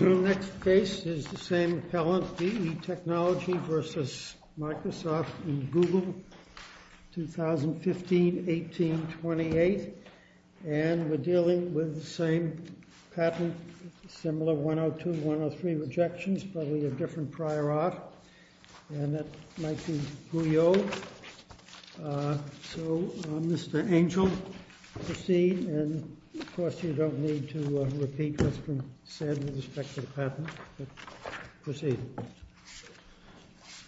Next case is the same appellant, B.E. Technology v. Microsoft and Google, 2015-18-28, and we're up to one of three rejections, probably a different prior art, and that might be Gouyeau. So, Mr. Angel, proceed, and of course, you don't need to repeat what's been said with respect to the patent, but proceed.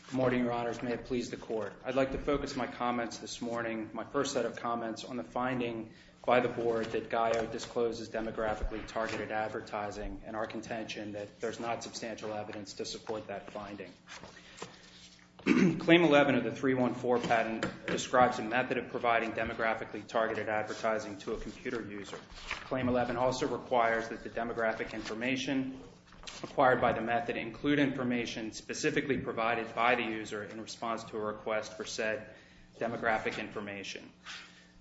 Good morning, Your Honors. May it please the Court. I'd like to focus my comments this morning, my first set of comments, on the finding by the Board that Gouyeau discloses demographically targeted advertising, and our contention that there's not substantial evidence to support that finding. Claim 11 of the 314 patent describes a method of providing demographically targeted advertising to a computer user. Claim 11 also requires that the demographic information acquired by the method include information specifically provided by the user in response to a request for said demographic information.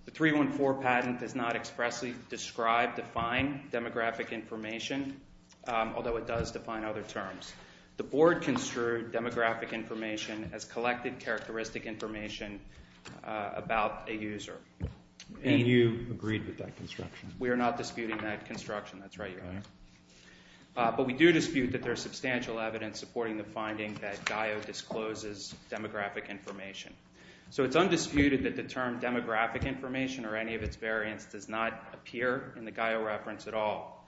The 314 patent does not expressly describe, define demographic information, although it does define other terms. The Board construed demographic information as collected characteristic information about a user. And you agreed with that construction? We are not disputing that construction, that's right, Your Honor. But we do dispute that there's substantial evidence supporting the finding that Gouyeau discloses demographic information. So it's undisputed that the term demographic information or any of its variants does not appear in the Gouyeau reference at all.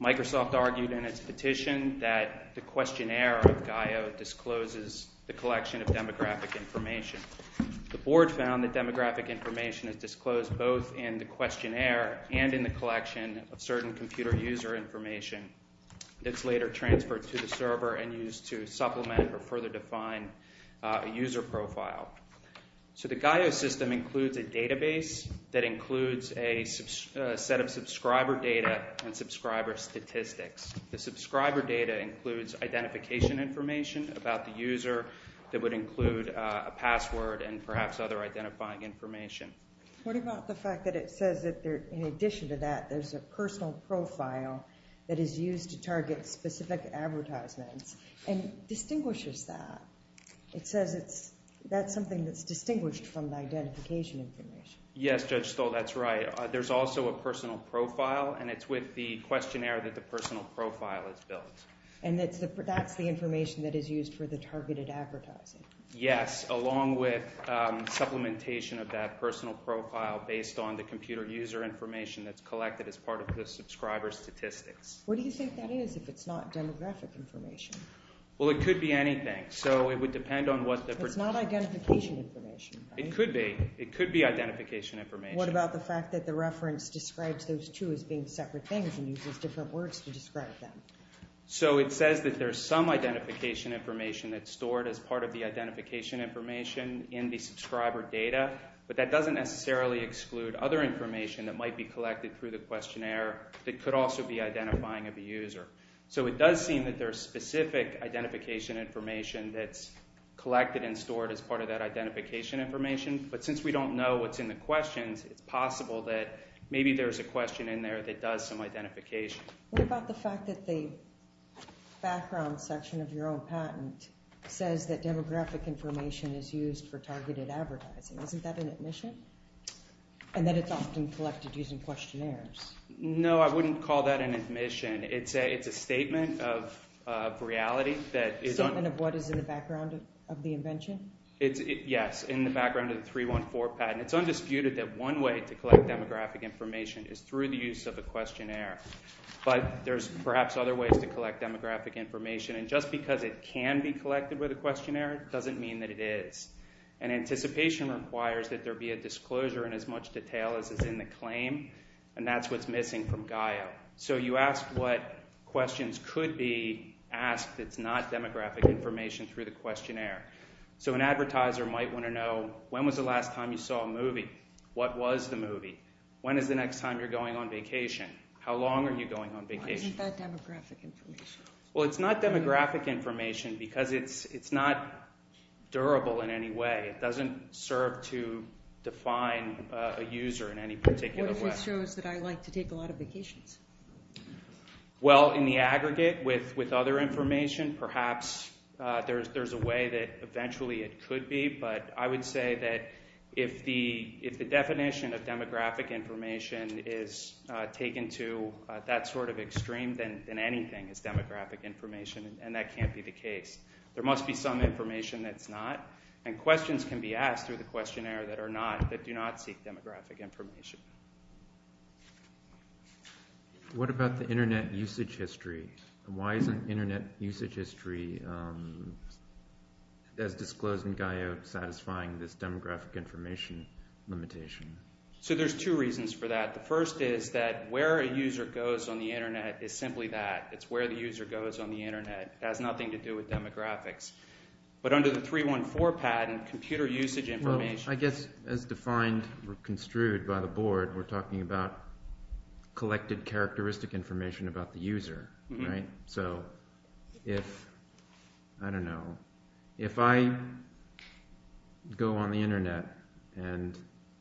Microsoft argued in its petition that the questionnaire of Gouyeau discloses the collection of demographic information. The Board found that demographic information is disclosed both in the questionnaire and in the collection of certain computer user information that's later transferred to the Gouyeau system. So the Gouyeau system includes a database that includes a set of subscriber data and subscriber statistics. The subscriber data includes identification information about the user that would include a password and perhaps other identifying information. What about the fact that it says that in addition to that there's a personal profile that is used to target specific advertisements and distinguishes that? It says that's something that's distinguished from the identification information. Yes, Judge Stoll, that's right. There's also a personal profile and it's with the questionnaire that the personal profile is built. And that's the information that is used for the targeted advertising? Yes, along with supplementation of that personal profile based on the computer user information that's collected as part of the subscriber statistics. What do you think that is if it's not demographic information? Well, it could be anything. So it would depend on what the... It's not identification information, right? It could be. It could be identification information. What about the fact that the reference describes those two as being separate things and uses different words to describe them? So it says that there's some identification information that's stored as part of the identification information in the subscriber data, but that doesn't necessarily exclude other information that might be collected through the questionnaire that could also be identifying of the user. So it does seem that there's specific identification information that's collected and stored as part of that identification information. But since we don't know what's in the questions, it's possible that maybe there's a question in there that does some identification. What about the fact that the background section of your own patent says that demographic information is used for targeted advertising? Isn't that an admission? And that it's often collected using questionnaires? No, I wouldn't call that an admission. It's a statement of reality that is... A statement of what is in the background of the invention? Yes, in the background of the 314 patent. It's undisputed that one way to collect demographic information is through the use of a questionnaire. But there's perhaps other ways to collect demographic information, and just because it can be collected with a questionnaire doesn't mean that it is. And anticipation requires that there be a disclosure in as much detail as is in the claim, and that's what's missing from GAIO. So you ask what questions could be asked that's not demographic information through the questionnaire. So an advertiser might want to know, when was the last time you saw a movie? What was the movie? When is the next time you're going on vacation? How long are you going on vacation? Why isn't that demographic information? Well, it's not demographic information because it's not durable in any way. It doesn't serve to define a user in any particular way. That shows that I like to take a lot of vacations. Well, in the aggregate, with other information, perhaps there's a way that eventually it could be, but I would say that if the definition of demographic information is taken to that sort of extreme, then anything is demographic information, and that can't be the case. There must be some information that's not, and questions can be asked through the questionnaire that do not seek demographic information. What about the Internet usage history? Why isn't Internet usage history, as disclosed in GAIO, satisfying this demographic information limitation? So there's two reasons for that. The first is that where a user goes on the Internet is simply that. It's where the user goes on the Internet. It has nothing to do with demographics. But under the 314 pattern, computer usage information… Well, I guess as defined or construed by the board, we're talking about collected characteristic information about the user, right? So if, I don't know, if I go on the Internet and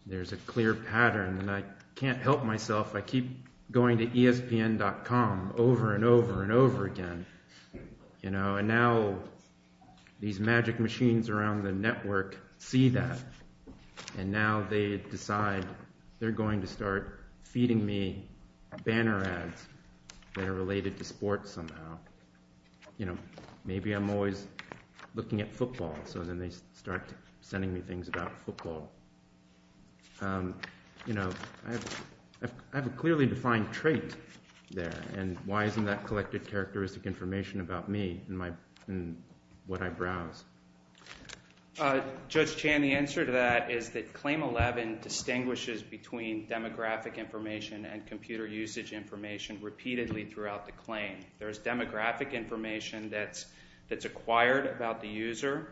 there's a clear pattern and I can't help myself, I keep going to ESPN.com over and over and over again. And now these magic machines around the network see that, and now they decide they're going to start feeding me banner ads that are related to sports somehow. Maybe I'm always looking at football, so then they start sending me things about football. You know, I have a clearly defined trait there, and why isn't that collected characteristic information about me and what I browse? Judge Chan, the answer to that is that Claim 11 distinguishes between demographic information and computer usage information repeatedly throughout the claim. There's demographic information that's acquired about the user,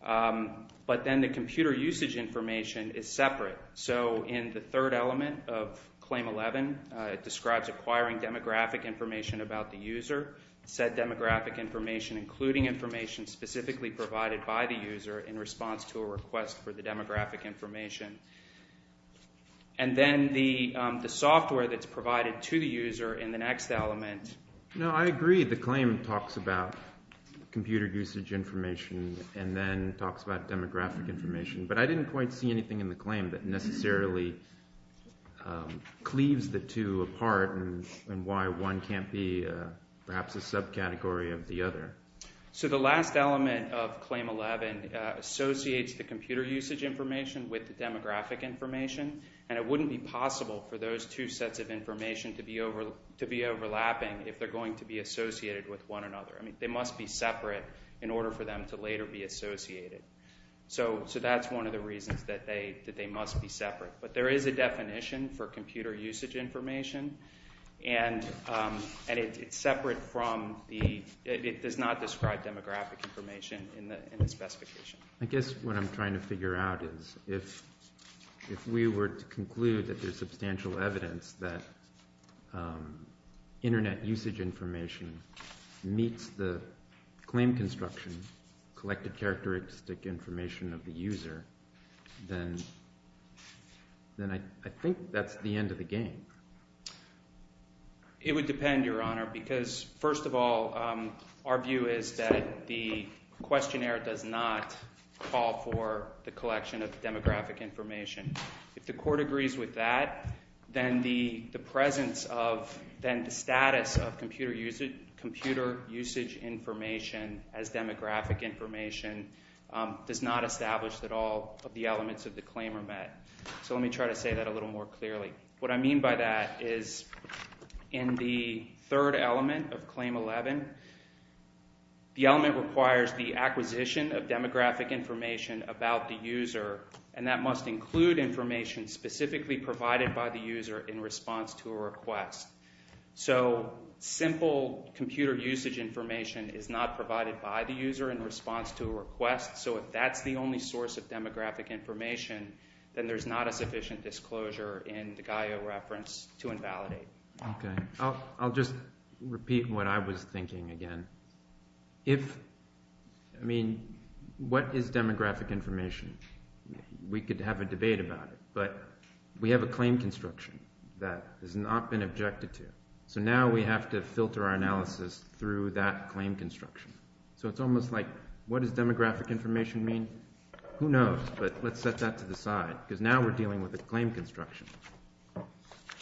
but then the computer usage information is separate. So in the third element of Claim 11, it describes acquiring demographic information about the user, said demographic information including information specifically provided by the user in response to a request for the demographic information. And then the software that's provided to the user in the next element… and then talks about demographic information. But I didn't quite see anything in the claim that necessarily cleaves the two apart and why one can't be perhaps a subcategory of the other. So the last element of Claim 11 associates the computer usage information with the demographic information, and it wouldn't be possible for those two sets of information to be overlapping if they're going to be associated with one another. I mean, they must be separate in order for them to later be associated. So that's one of the reasons that they must be separate. But there is a definition for computer usage information, and it's separate from the… it does not describe demographic information in the specification. I guess what I'm trying to figure out is if we were to conclude that there's substantial evidence that internet usage information meets the claim construction, collected characteristic information of the user, then I think that's the end of the game. It would depend, Your Honor, because first of all, our view is that the questionnaire does not call for the collection of demographic information. If the court agrees with that, then the presence of then the status of computer usage information as demographic information does not establish that all of the elements of the claim are met. So let me try to say that a little more clearly. What I mean by that is in the third element of Claim 11, the element requires the acquisition of demographic information about the user, and that must include information specifically provided by the user in response to a request. So simple computer usage information is not provided by the user in response to a request, so if that's the only source of demographic information, then there's not a sufficient disclosure in the GAIO reference to invalidate. Okay. I'll just repeat what I was thinking again. If, I mean, what is demographic information? We could have a debate about it, but we have a claim construction that has not been objected to, so now we have to filter our analysis through that claim construction. So it's almost like what does demographic information mean? Who knows, but let's set that to the side, because now we're dealing with a claim construction.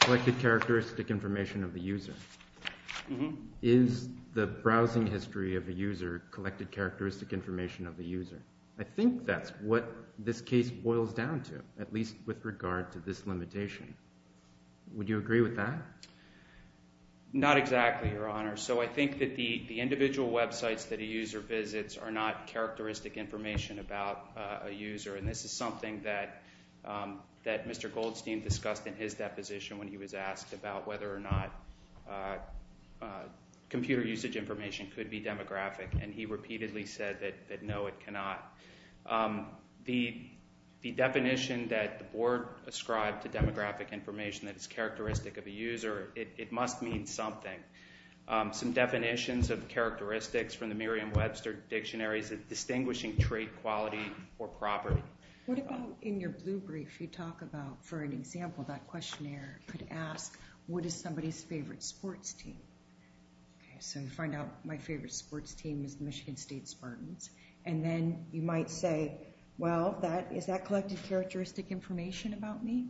Collected characteristic information of the user. Is the browsing history of the user collected characteristic information of the user? I think that's what this case boils down to, at least with regard to this limitation. Would you agree with that? Not exactly, Your Honor. So I think that the individual websites that a user visits are not characteristic information about a user, and this is something that Mr. Goldstein discussed in his deposition when he was asked about whether or not computer usage information could be demographic, and he repeatedly said that no, it cannot. The definition that the Board ascribed to demographic information that is characteristic of a user, it must mean something. Some definitions of characteristics from the Merriam-Webster Dictionary is a distinguishing trait, quality, or property. What about in your blue brief you talk about, for an example, that questionnaire could ask, what is somebody's favorite sports team? So you find out my favorite sports team is the Michigan State Spartans, and then you might say, well, is that collected characteristic information about me?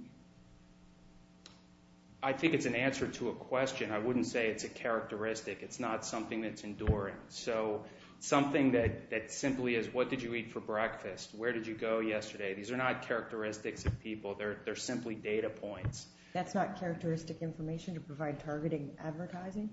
I think it's an answer to a question. I wouldn't say it's a characteristic. It's not something that's enduring. So something that simply is, what did you eat for breakfast? Where did you go yesterday? These are not characteristics of people. They're simply data points. That's not characteristic information to provide targeting advertising?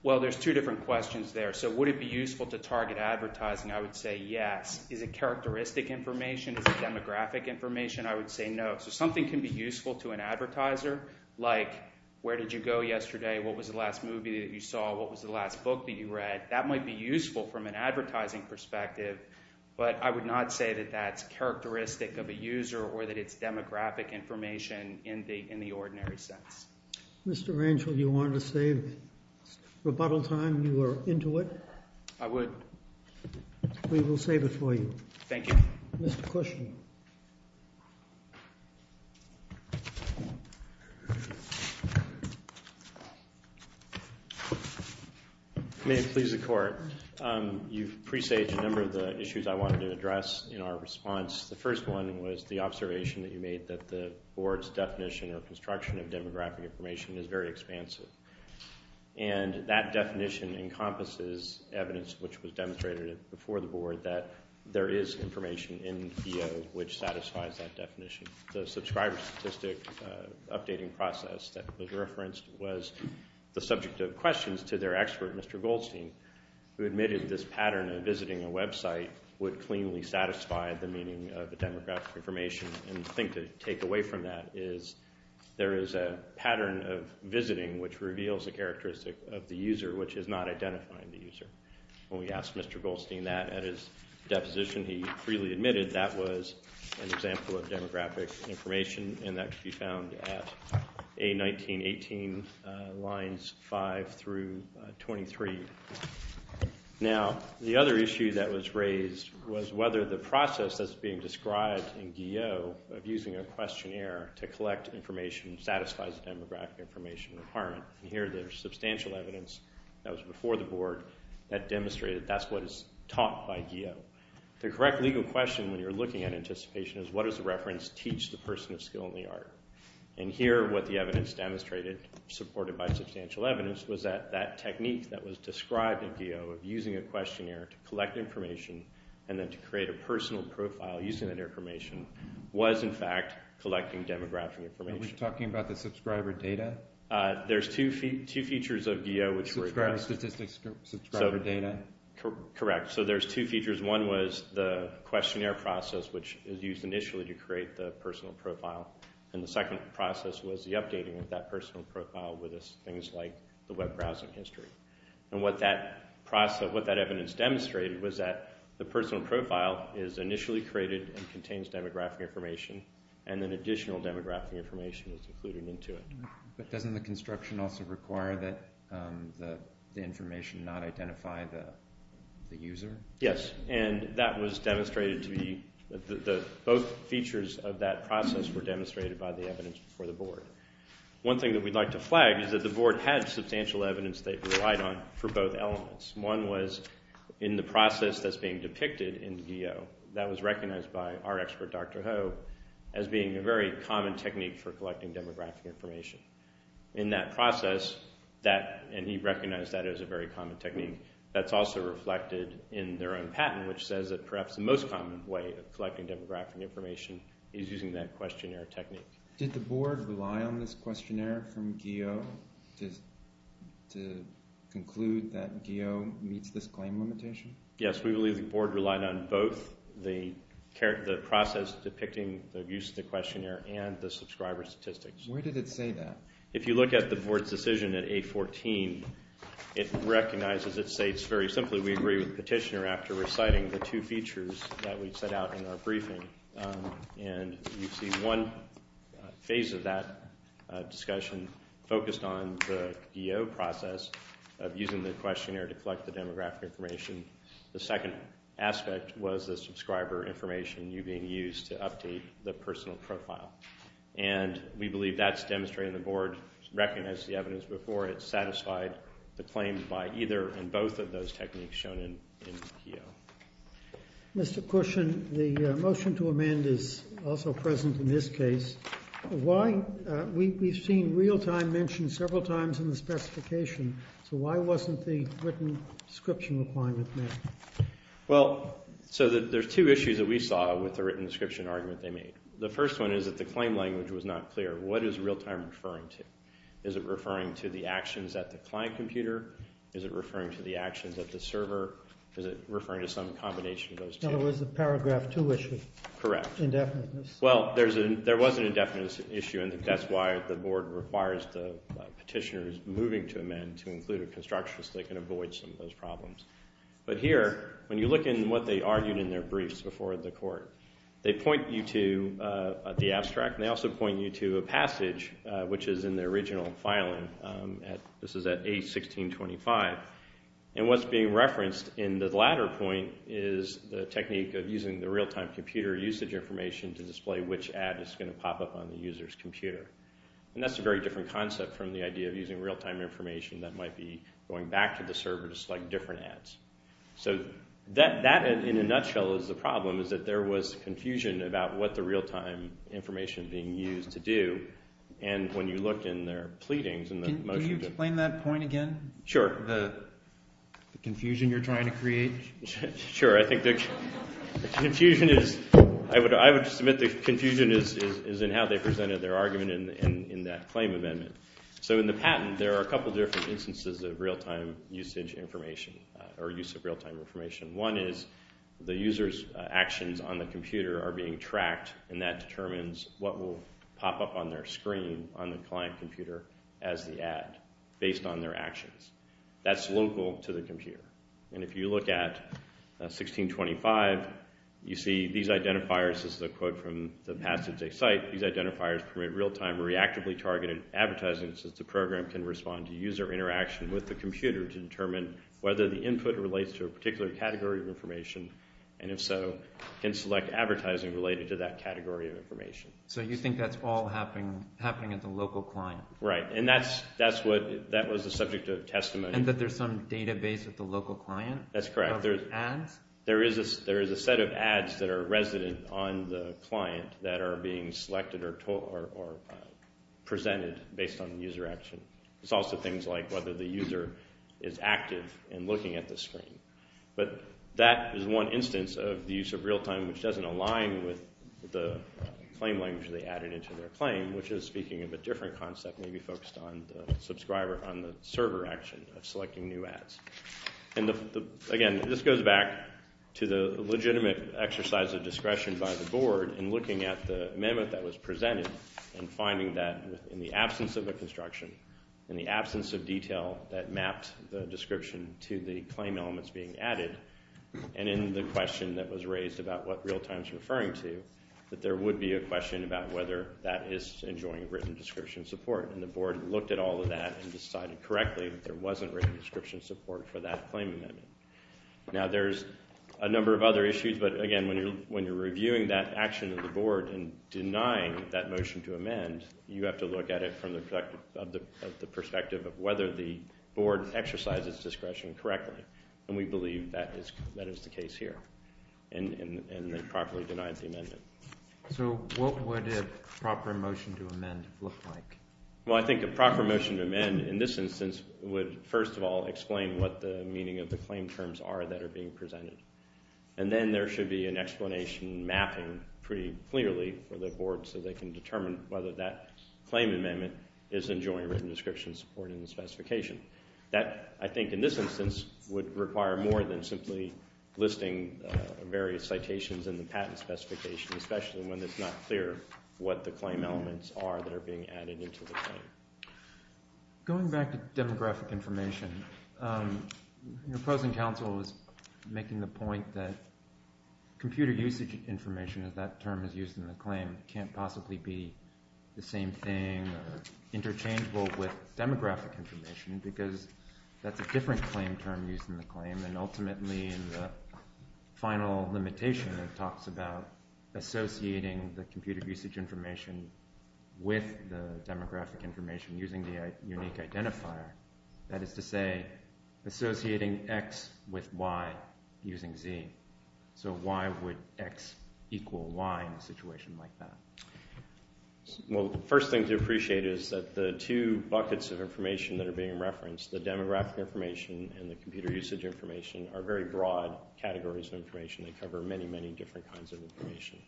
Well, there's two different questions there. So would it be useful to target advertising? I would say yes. Is it characteristic information? Is it demographic information? I would say no. So something can be useful to an advertiser like, where did you go yesterday? What was the last movie that you saw? What was the last book that you read? That might be useful from an advertising perspective, but I would not say that that's characteristic of a user or that it's demographic information in the ordinary sense. Mr. Rangel, you wanted to save rebuttal time? You were into it? I would. We will save it for you. Thank you. Mr. Kushner. May it please the Court. You've presaged a number of the issues I wanted to address in our response. The first one was the observation that you made that the Board's definition or construction of demographic information is very expansive, and that definition encompasses evidence which was demonstrated before the Board that there is information in DO which satisfies that definition. The subscriber statistic updating process that was referenced was the subject of questions to their expert, Mr. Goldstein, who admitted this pattern of visiting a website would cleanly satisfy the meaning of the demographic information. And the thing to take away from that is there is a pattern of visiting which reveals a characteristic of the user which is not identifying the user. When we asked Mr. Goldstein that at his deposition, he freely admitted that was an example of demographic information, and that can be found at A1918 lines 5 through 23. Now, the other issue that was raised was whether the process that's being described in DO of using a questionnaire to collect information satisfies the demographic information requirement. And here there's substantial evidence that was before the Board that demonstrated that's what is taught by DO. The correct legal question when you're looking at anticipation is what does the reference teach the person of skill in the art? And here what the evidence demonstrated, supported by substantial evidence, was that that technique that was described in DO of using a questionnaire to collect information and then to create a personal profile using that information was in fact collecting demographic information. Are we talking about the subscriber data? There's two features of DO which were addressed. Subscriber statistics, subscriber data? Correct. So there's two features. One was the questionnaire process, which is used initially to create the personal profile, and the second process was the updating of that personal profile with things like the web browsing history. And what that evidence demonstrated was that the personal profile is initially created and contains demographic information, and then additional demographic information is included into it. But doesn't the construction also require that the information not identify the user? Yes, and that was demonstrated to be the both features of that process were demonstrated by the evidence before the board. One thing that we'd like to flag is that the board had substantial evidence they relied on for both elements. One was in the process that's being depicted in DO, that was recognized by our expert, Dr. Ho, as being a very common technique for collecting demographic information. In that process, and he recognized that as a very common technique, that's also reflected in their own patent, which says that perhaps the most common way of collecting demographic information is using that questionnaire technique. Did the board rely on this questionnaire from GEO to conclude that GEO meets this claim limitation? Yes, we believe the board relied on both the process depicting the use of the questionnaire and the subscriber statistics. Where did it say that? If you look at the board's decision at 814, it recognizes, it states very simply, we agree with the petitioner after reciting the two features that we set out in our briefing. And you see one phase of that discussion focused on the GEO process of using the questionnaire to collect the demographic information. The second aspect was the subscriber information you being used to update the personal profile. And we believe that's demonstrated in the board, recognized the evidence before it satisfied the claim by either and both of those techniques shown in GEO. Mr. Cushon, the motion to amend is also present in this case. We've seen real-time mentioned several times in the specification, so why wasn't the written description requirement met? Well, so there's two issues that we saw with the written description argument they made. The first one is that the claim language was not clear. What is real-time referring to? Is it referring to the actions at the client computer? Is it referring to the actions at the server? Is it referring to some combination of those two? No, it was the paragraph 2 issue. Correct. Indefiniteness. Well, there was an indefiniteness issue, and that's why the board requires the petitioners moving to amend to include a construction so they can avoid some of those problems. But here, when you look at what they argued in their briefs before the court, they point you to the abstract, and they also point you to a passage which is in the original filing. This is at A1625. And what's being referenced in the latter point is the technique of using the real-time computer usage information to display which ad is going to pop up on the user's computer. And that's a very different concept from the idea of using real-time information that might be going back to the server to select different ads. So that, in a nutshell, is the problem, is that there was confusion about what the real-time information is being used to do. And when you look in their pleadings in the motion to... Can you explain that point again? Sure. The confusion you're trying to create? Sure. I think the confusion is... I would submit the confusion is in how they presented their argument in that claim amendment. So in the patent, there are a couple different instances of real-time usage information or use of real-time information. One is the user's actions on the computer are being tracked, and that determines what will pop up on their screen on the client computer as the ad, based on their actions. That's local to the computer. And if you look at A1625, you see these identifiers. This is a quote from the passage they cite. These identifiers permit real-time reactively targeted advertising since the program can respond to user interaction with the computer to determine whether the input relates to a particular category of information, and if so, can select advertising related to that category of information. So you think that's all happening at the local client? Right. And that was the subject of testimony. And that there's some database at the local client? That's correct. Are there ads? There is a set of ads that are resident on the client that are being selected or presented based on the user action. It's also things like whether the user is active and looking at the screen. But that is one instance of the use of real-time, which doesn't align with the claim language they added into their claim, which is speaking of a different concept, maybe focused on the subscriber on the server action of selecting new ads. Again, this goes back to the legitimate exercise of discretion by the board in looking at the amendment that was presented and finding that in the absence of a construction, in the absence of detail that mapped the description to the claim elements being added, and in the question that was raised about what real-time is referring to, that there would be a question about whether that is enjoying written description support. And the board looked at all of that and decided correctly that there wasn't written description support for that claim amendment. Again, when you're reviewing that action of the board and denying that motion to amend, you have to look at it from the perspective of whether the board exercises discretion correctly. And we believe that is the case here. And they properly denied the amendment. So what would a proper motion to amend look like? Well, I think a proper motion to amend in this instance would, first of all, explain what the meaning of the claim terms are that are being presented. And then there should be an explanation mapping pretty clearly for the board so they can determine whether that claim amendment is enjoying written description support in the specification. That, I think in this instance, would require more than simply listing various citations in the patent specification, especially when it's not clear what the claim elements are that are being added into the claim. Going back to demographic information, your opposing counsel was making the point that computer usage information, as that term is used in the claim, can't possibly be the same thing or interchangeable with demographic information because that's a different claim term used in the claim. And ultimately, in the final limitation, it talks about associating the computer usage information with the demographic information using the unique identifier. That is to say, associating X with Y using Z. So why would X equal Y in a situation like that? Well, the first thing to appreciate is that the two buckets of information that are being referenced, the demographic information and the computer usage information, are very broad categories of information. They cover many, many different kinds of information.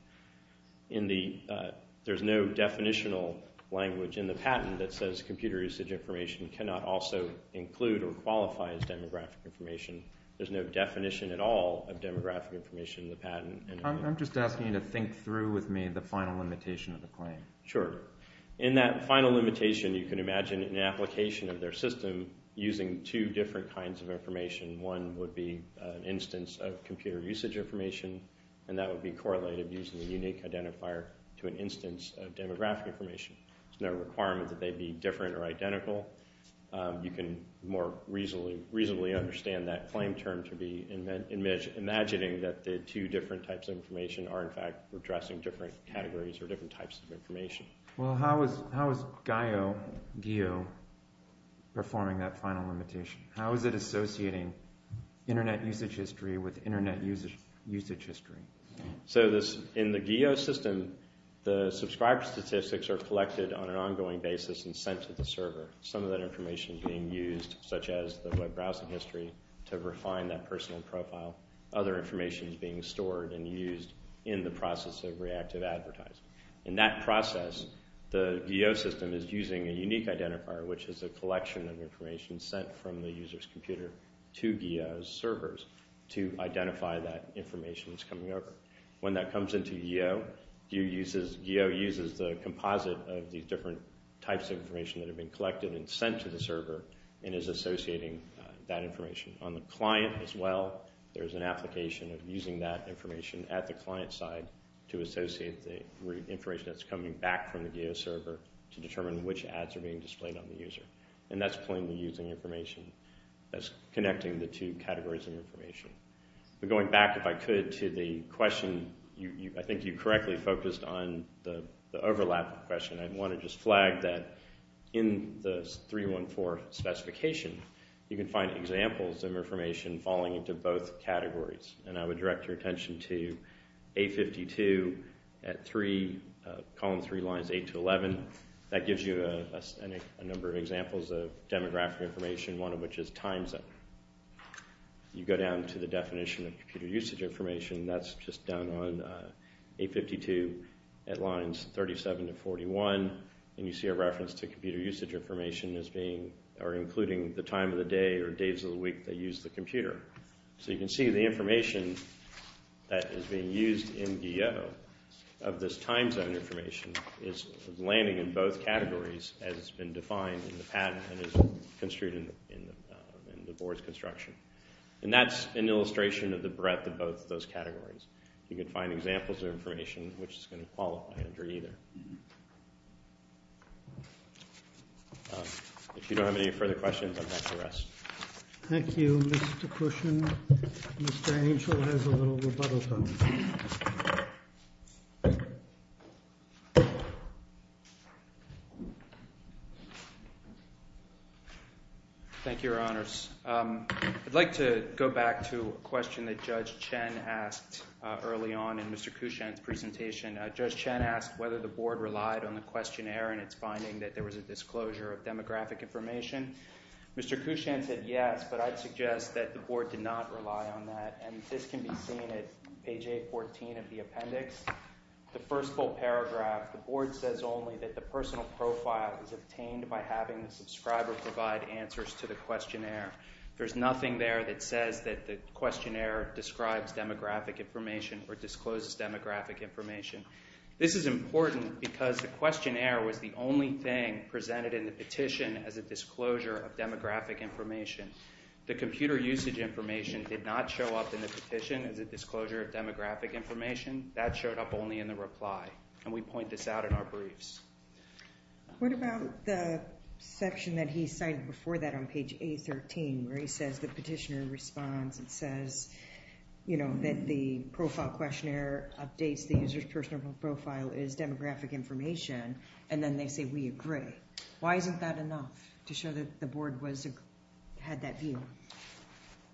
There's no definitional language in the patent that says computer usage information cannot also include or qualify as demographic information. There's no definition at all of demographic information in the patent. I'm just asking you to think through with me the final limitation of the claim. Sure. In that final limitation, you can imagine an application of their system using two different kinds of information. One would be an instance of computer usage information, and that would be correlated using the unique identifier to an instance of demographic information. There's no requirement that they be different or identical. You can more reasonably understand that claim term to be imagining that the two different types of information are, in fact, addressing different categories or different types of information. Well, how is GEO performing that final limitation? How is it associating Internet usage history with Internet usage history? So in the GEO system, the subscriber statistics are collected on an ongoing basis and sent to the server. Some of that information is being used, such as the web browsing history, to refine that personal profile. Other information is being stored and used in the process of reactive advertising. In that process, the GEO system is using a unique identifier, which is a collection of information sent from the user's computer to GEO's servers to identify that information that's coming over. When that comes into GEO, GEO uses the composite of these different types of information that have been collected and sent to the server and is associating that information. On the client as well, there's an application of using that information at the client side to associate the information that's coming back from the GEO server to determine which ads are being displayed on the user. And that's plainly using information as connecting the two categories of information. But going back, if I could, to the question. I think you correctly focused on the overlap question. I want to just flag that in the 314 specification, you can find examples of information falling into both categories. And I would direct your attention to A52 at column 3, lines 8 to 11. That gives you a number of examples of demographic information, one of which is time zone. You go down to the definition of computer usage information. That's just down on A52 at lines 37 to 41. And you see a reference to computer usage information as being or including the time of the day or days of the week they use the computer. So you can see the information that is being used in GEO of this time zone information is landing in both categories as it's been defined in the patent and is construed in the board's construction. And that's an illustration of the breadth of both those categories. You can find examples of information which is going to qualify under either. If you don't have any further questions, I'm happy to rest. Thank you, Mr. Cushan. Mr. Angel has a little rebuttal time. Thank you, Your Honors. I'd like to go back to a question that Judge Chen asked early on in Mr. Cushan's presentation. Judge Chen asked whether the board relied on the questionnaire in its finding that there was a disclosure of demographic information. Mr. Cushan said yes, but I'd suggest that the board did not rely on that. And this can be seen at page 814 of the appendix. The first full paragraph, the board says only that the personal profile was obtained by having the subscriber provide answers to the questionnaire. There's nothing there that says that the questionnaire describes demographic information or discloses demographic information. This is important because the questionnaire was the only thing presented in the petition as a disclosure of demographic information. The computer usage information did not show up in the petition as a disclosure of demographic information. That showed up only in the reply, and we point this out in our briefs. What about the section that he cited before that on page 813 where he says the petitioner responds and says, you know, that the profile questionnaire updates the user's personal profile as demographic information, and then they say we agree. Why isn't that enough to show that the board had that view?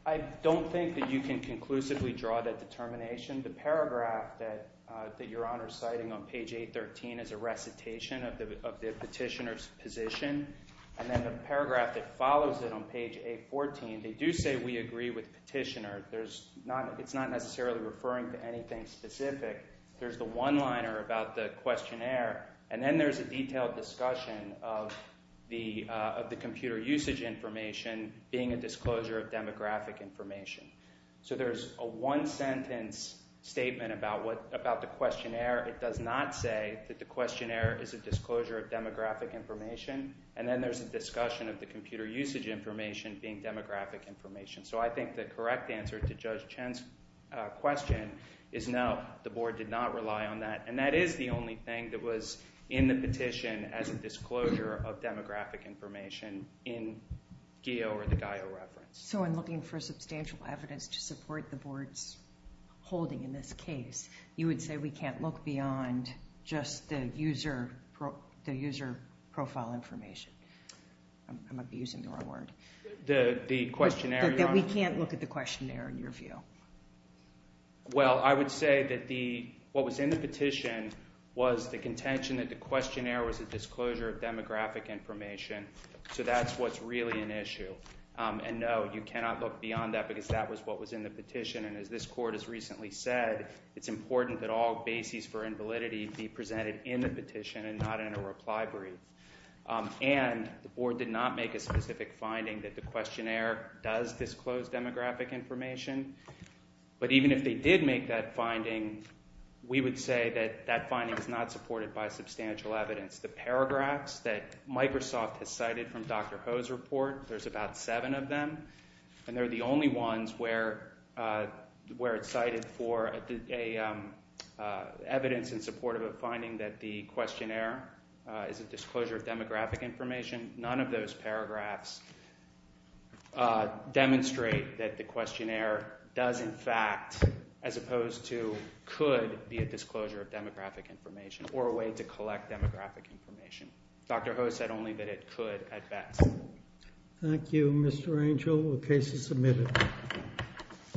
I don't think that you can conclusively draw that determination. The paragraph that Your Honor is citing on page 813 is a recitation of the petitioner's position, and then the paragraph that follows it on page 814, they do say we agree with the petitioner. It's not necessarily referring to anything specific. There's the one-liner about the questionnaire, and then there's a detailed discussion of the computer usage information being a disclosure of demographic information. So there's a one-sentence statement about the questionnaire. It does not say that the questionnaire is a disclosure of demographic information, and then there's a discussion of the computer usage information being demographic information. So I think the correct answer to Judge Chen's question is no, the board did not rely on that, and that is the only thing that was in the petition as a disclosure of demographic information in GEO or the GIO reference. So in looking for substantial evidence to support the board's holding in this case, you would say we can't look beyond just the user profile information. I'm abusing the wrong word. The questionnaire, Your Honor? That we can't look at the questionnaire in your view. Well, I would say that what was in the petition was the contention that the questionnaire was a disclosure of demographic information, so that's what's really an issue. And no, you cannot look beyond that because that was what was in the petition, and as this court has recently said, it's important that all bases for invalidity be presented in the petition and not in a reply brief. And the board did not make a specific finding that the questionnaire does disclose demographic information, but even if they did make that finding, we would say that that finding is not supported by substantial evidence. The paragraphs that Microsoft has cited from Dr. Ho's report, there's about seven of them, and they're the only ones where it's cited for evidence in support of a finding that the questionnaire is a disclosure of demographic information. None of those paragraphs demonstrate that the questionnaire does, in fact, as opposed to could be a disclosure of demographic information or a way to collect demographic information. Dr. Ho said only that it could at best. Thank you, Mr. Angel. The case is submitted.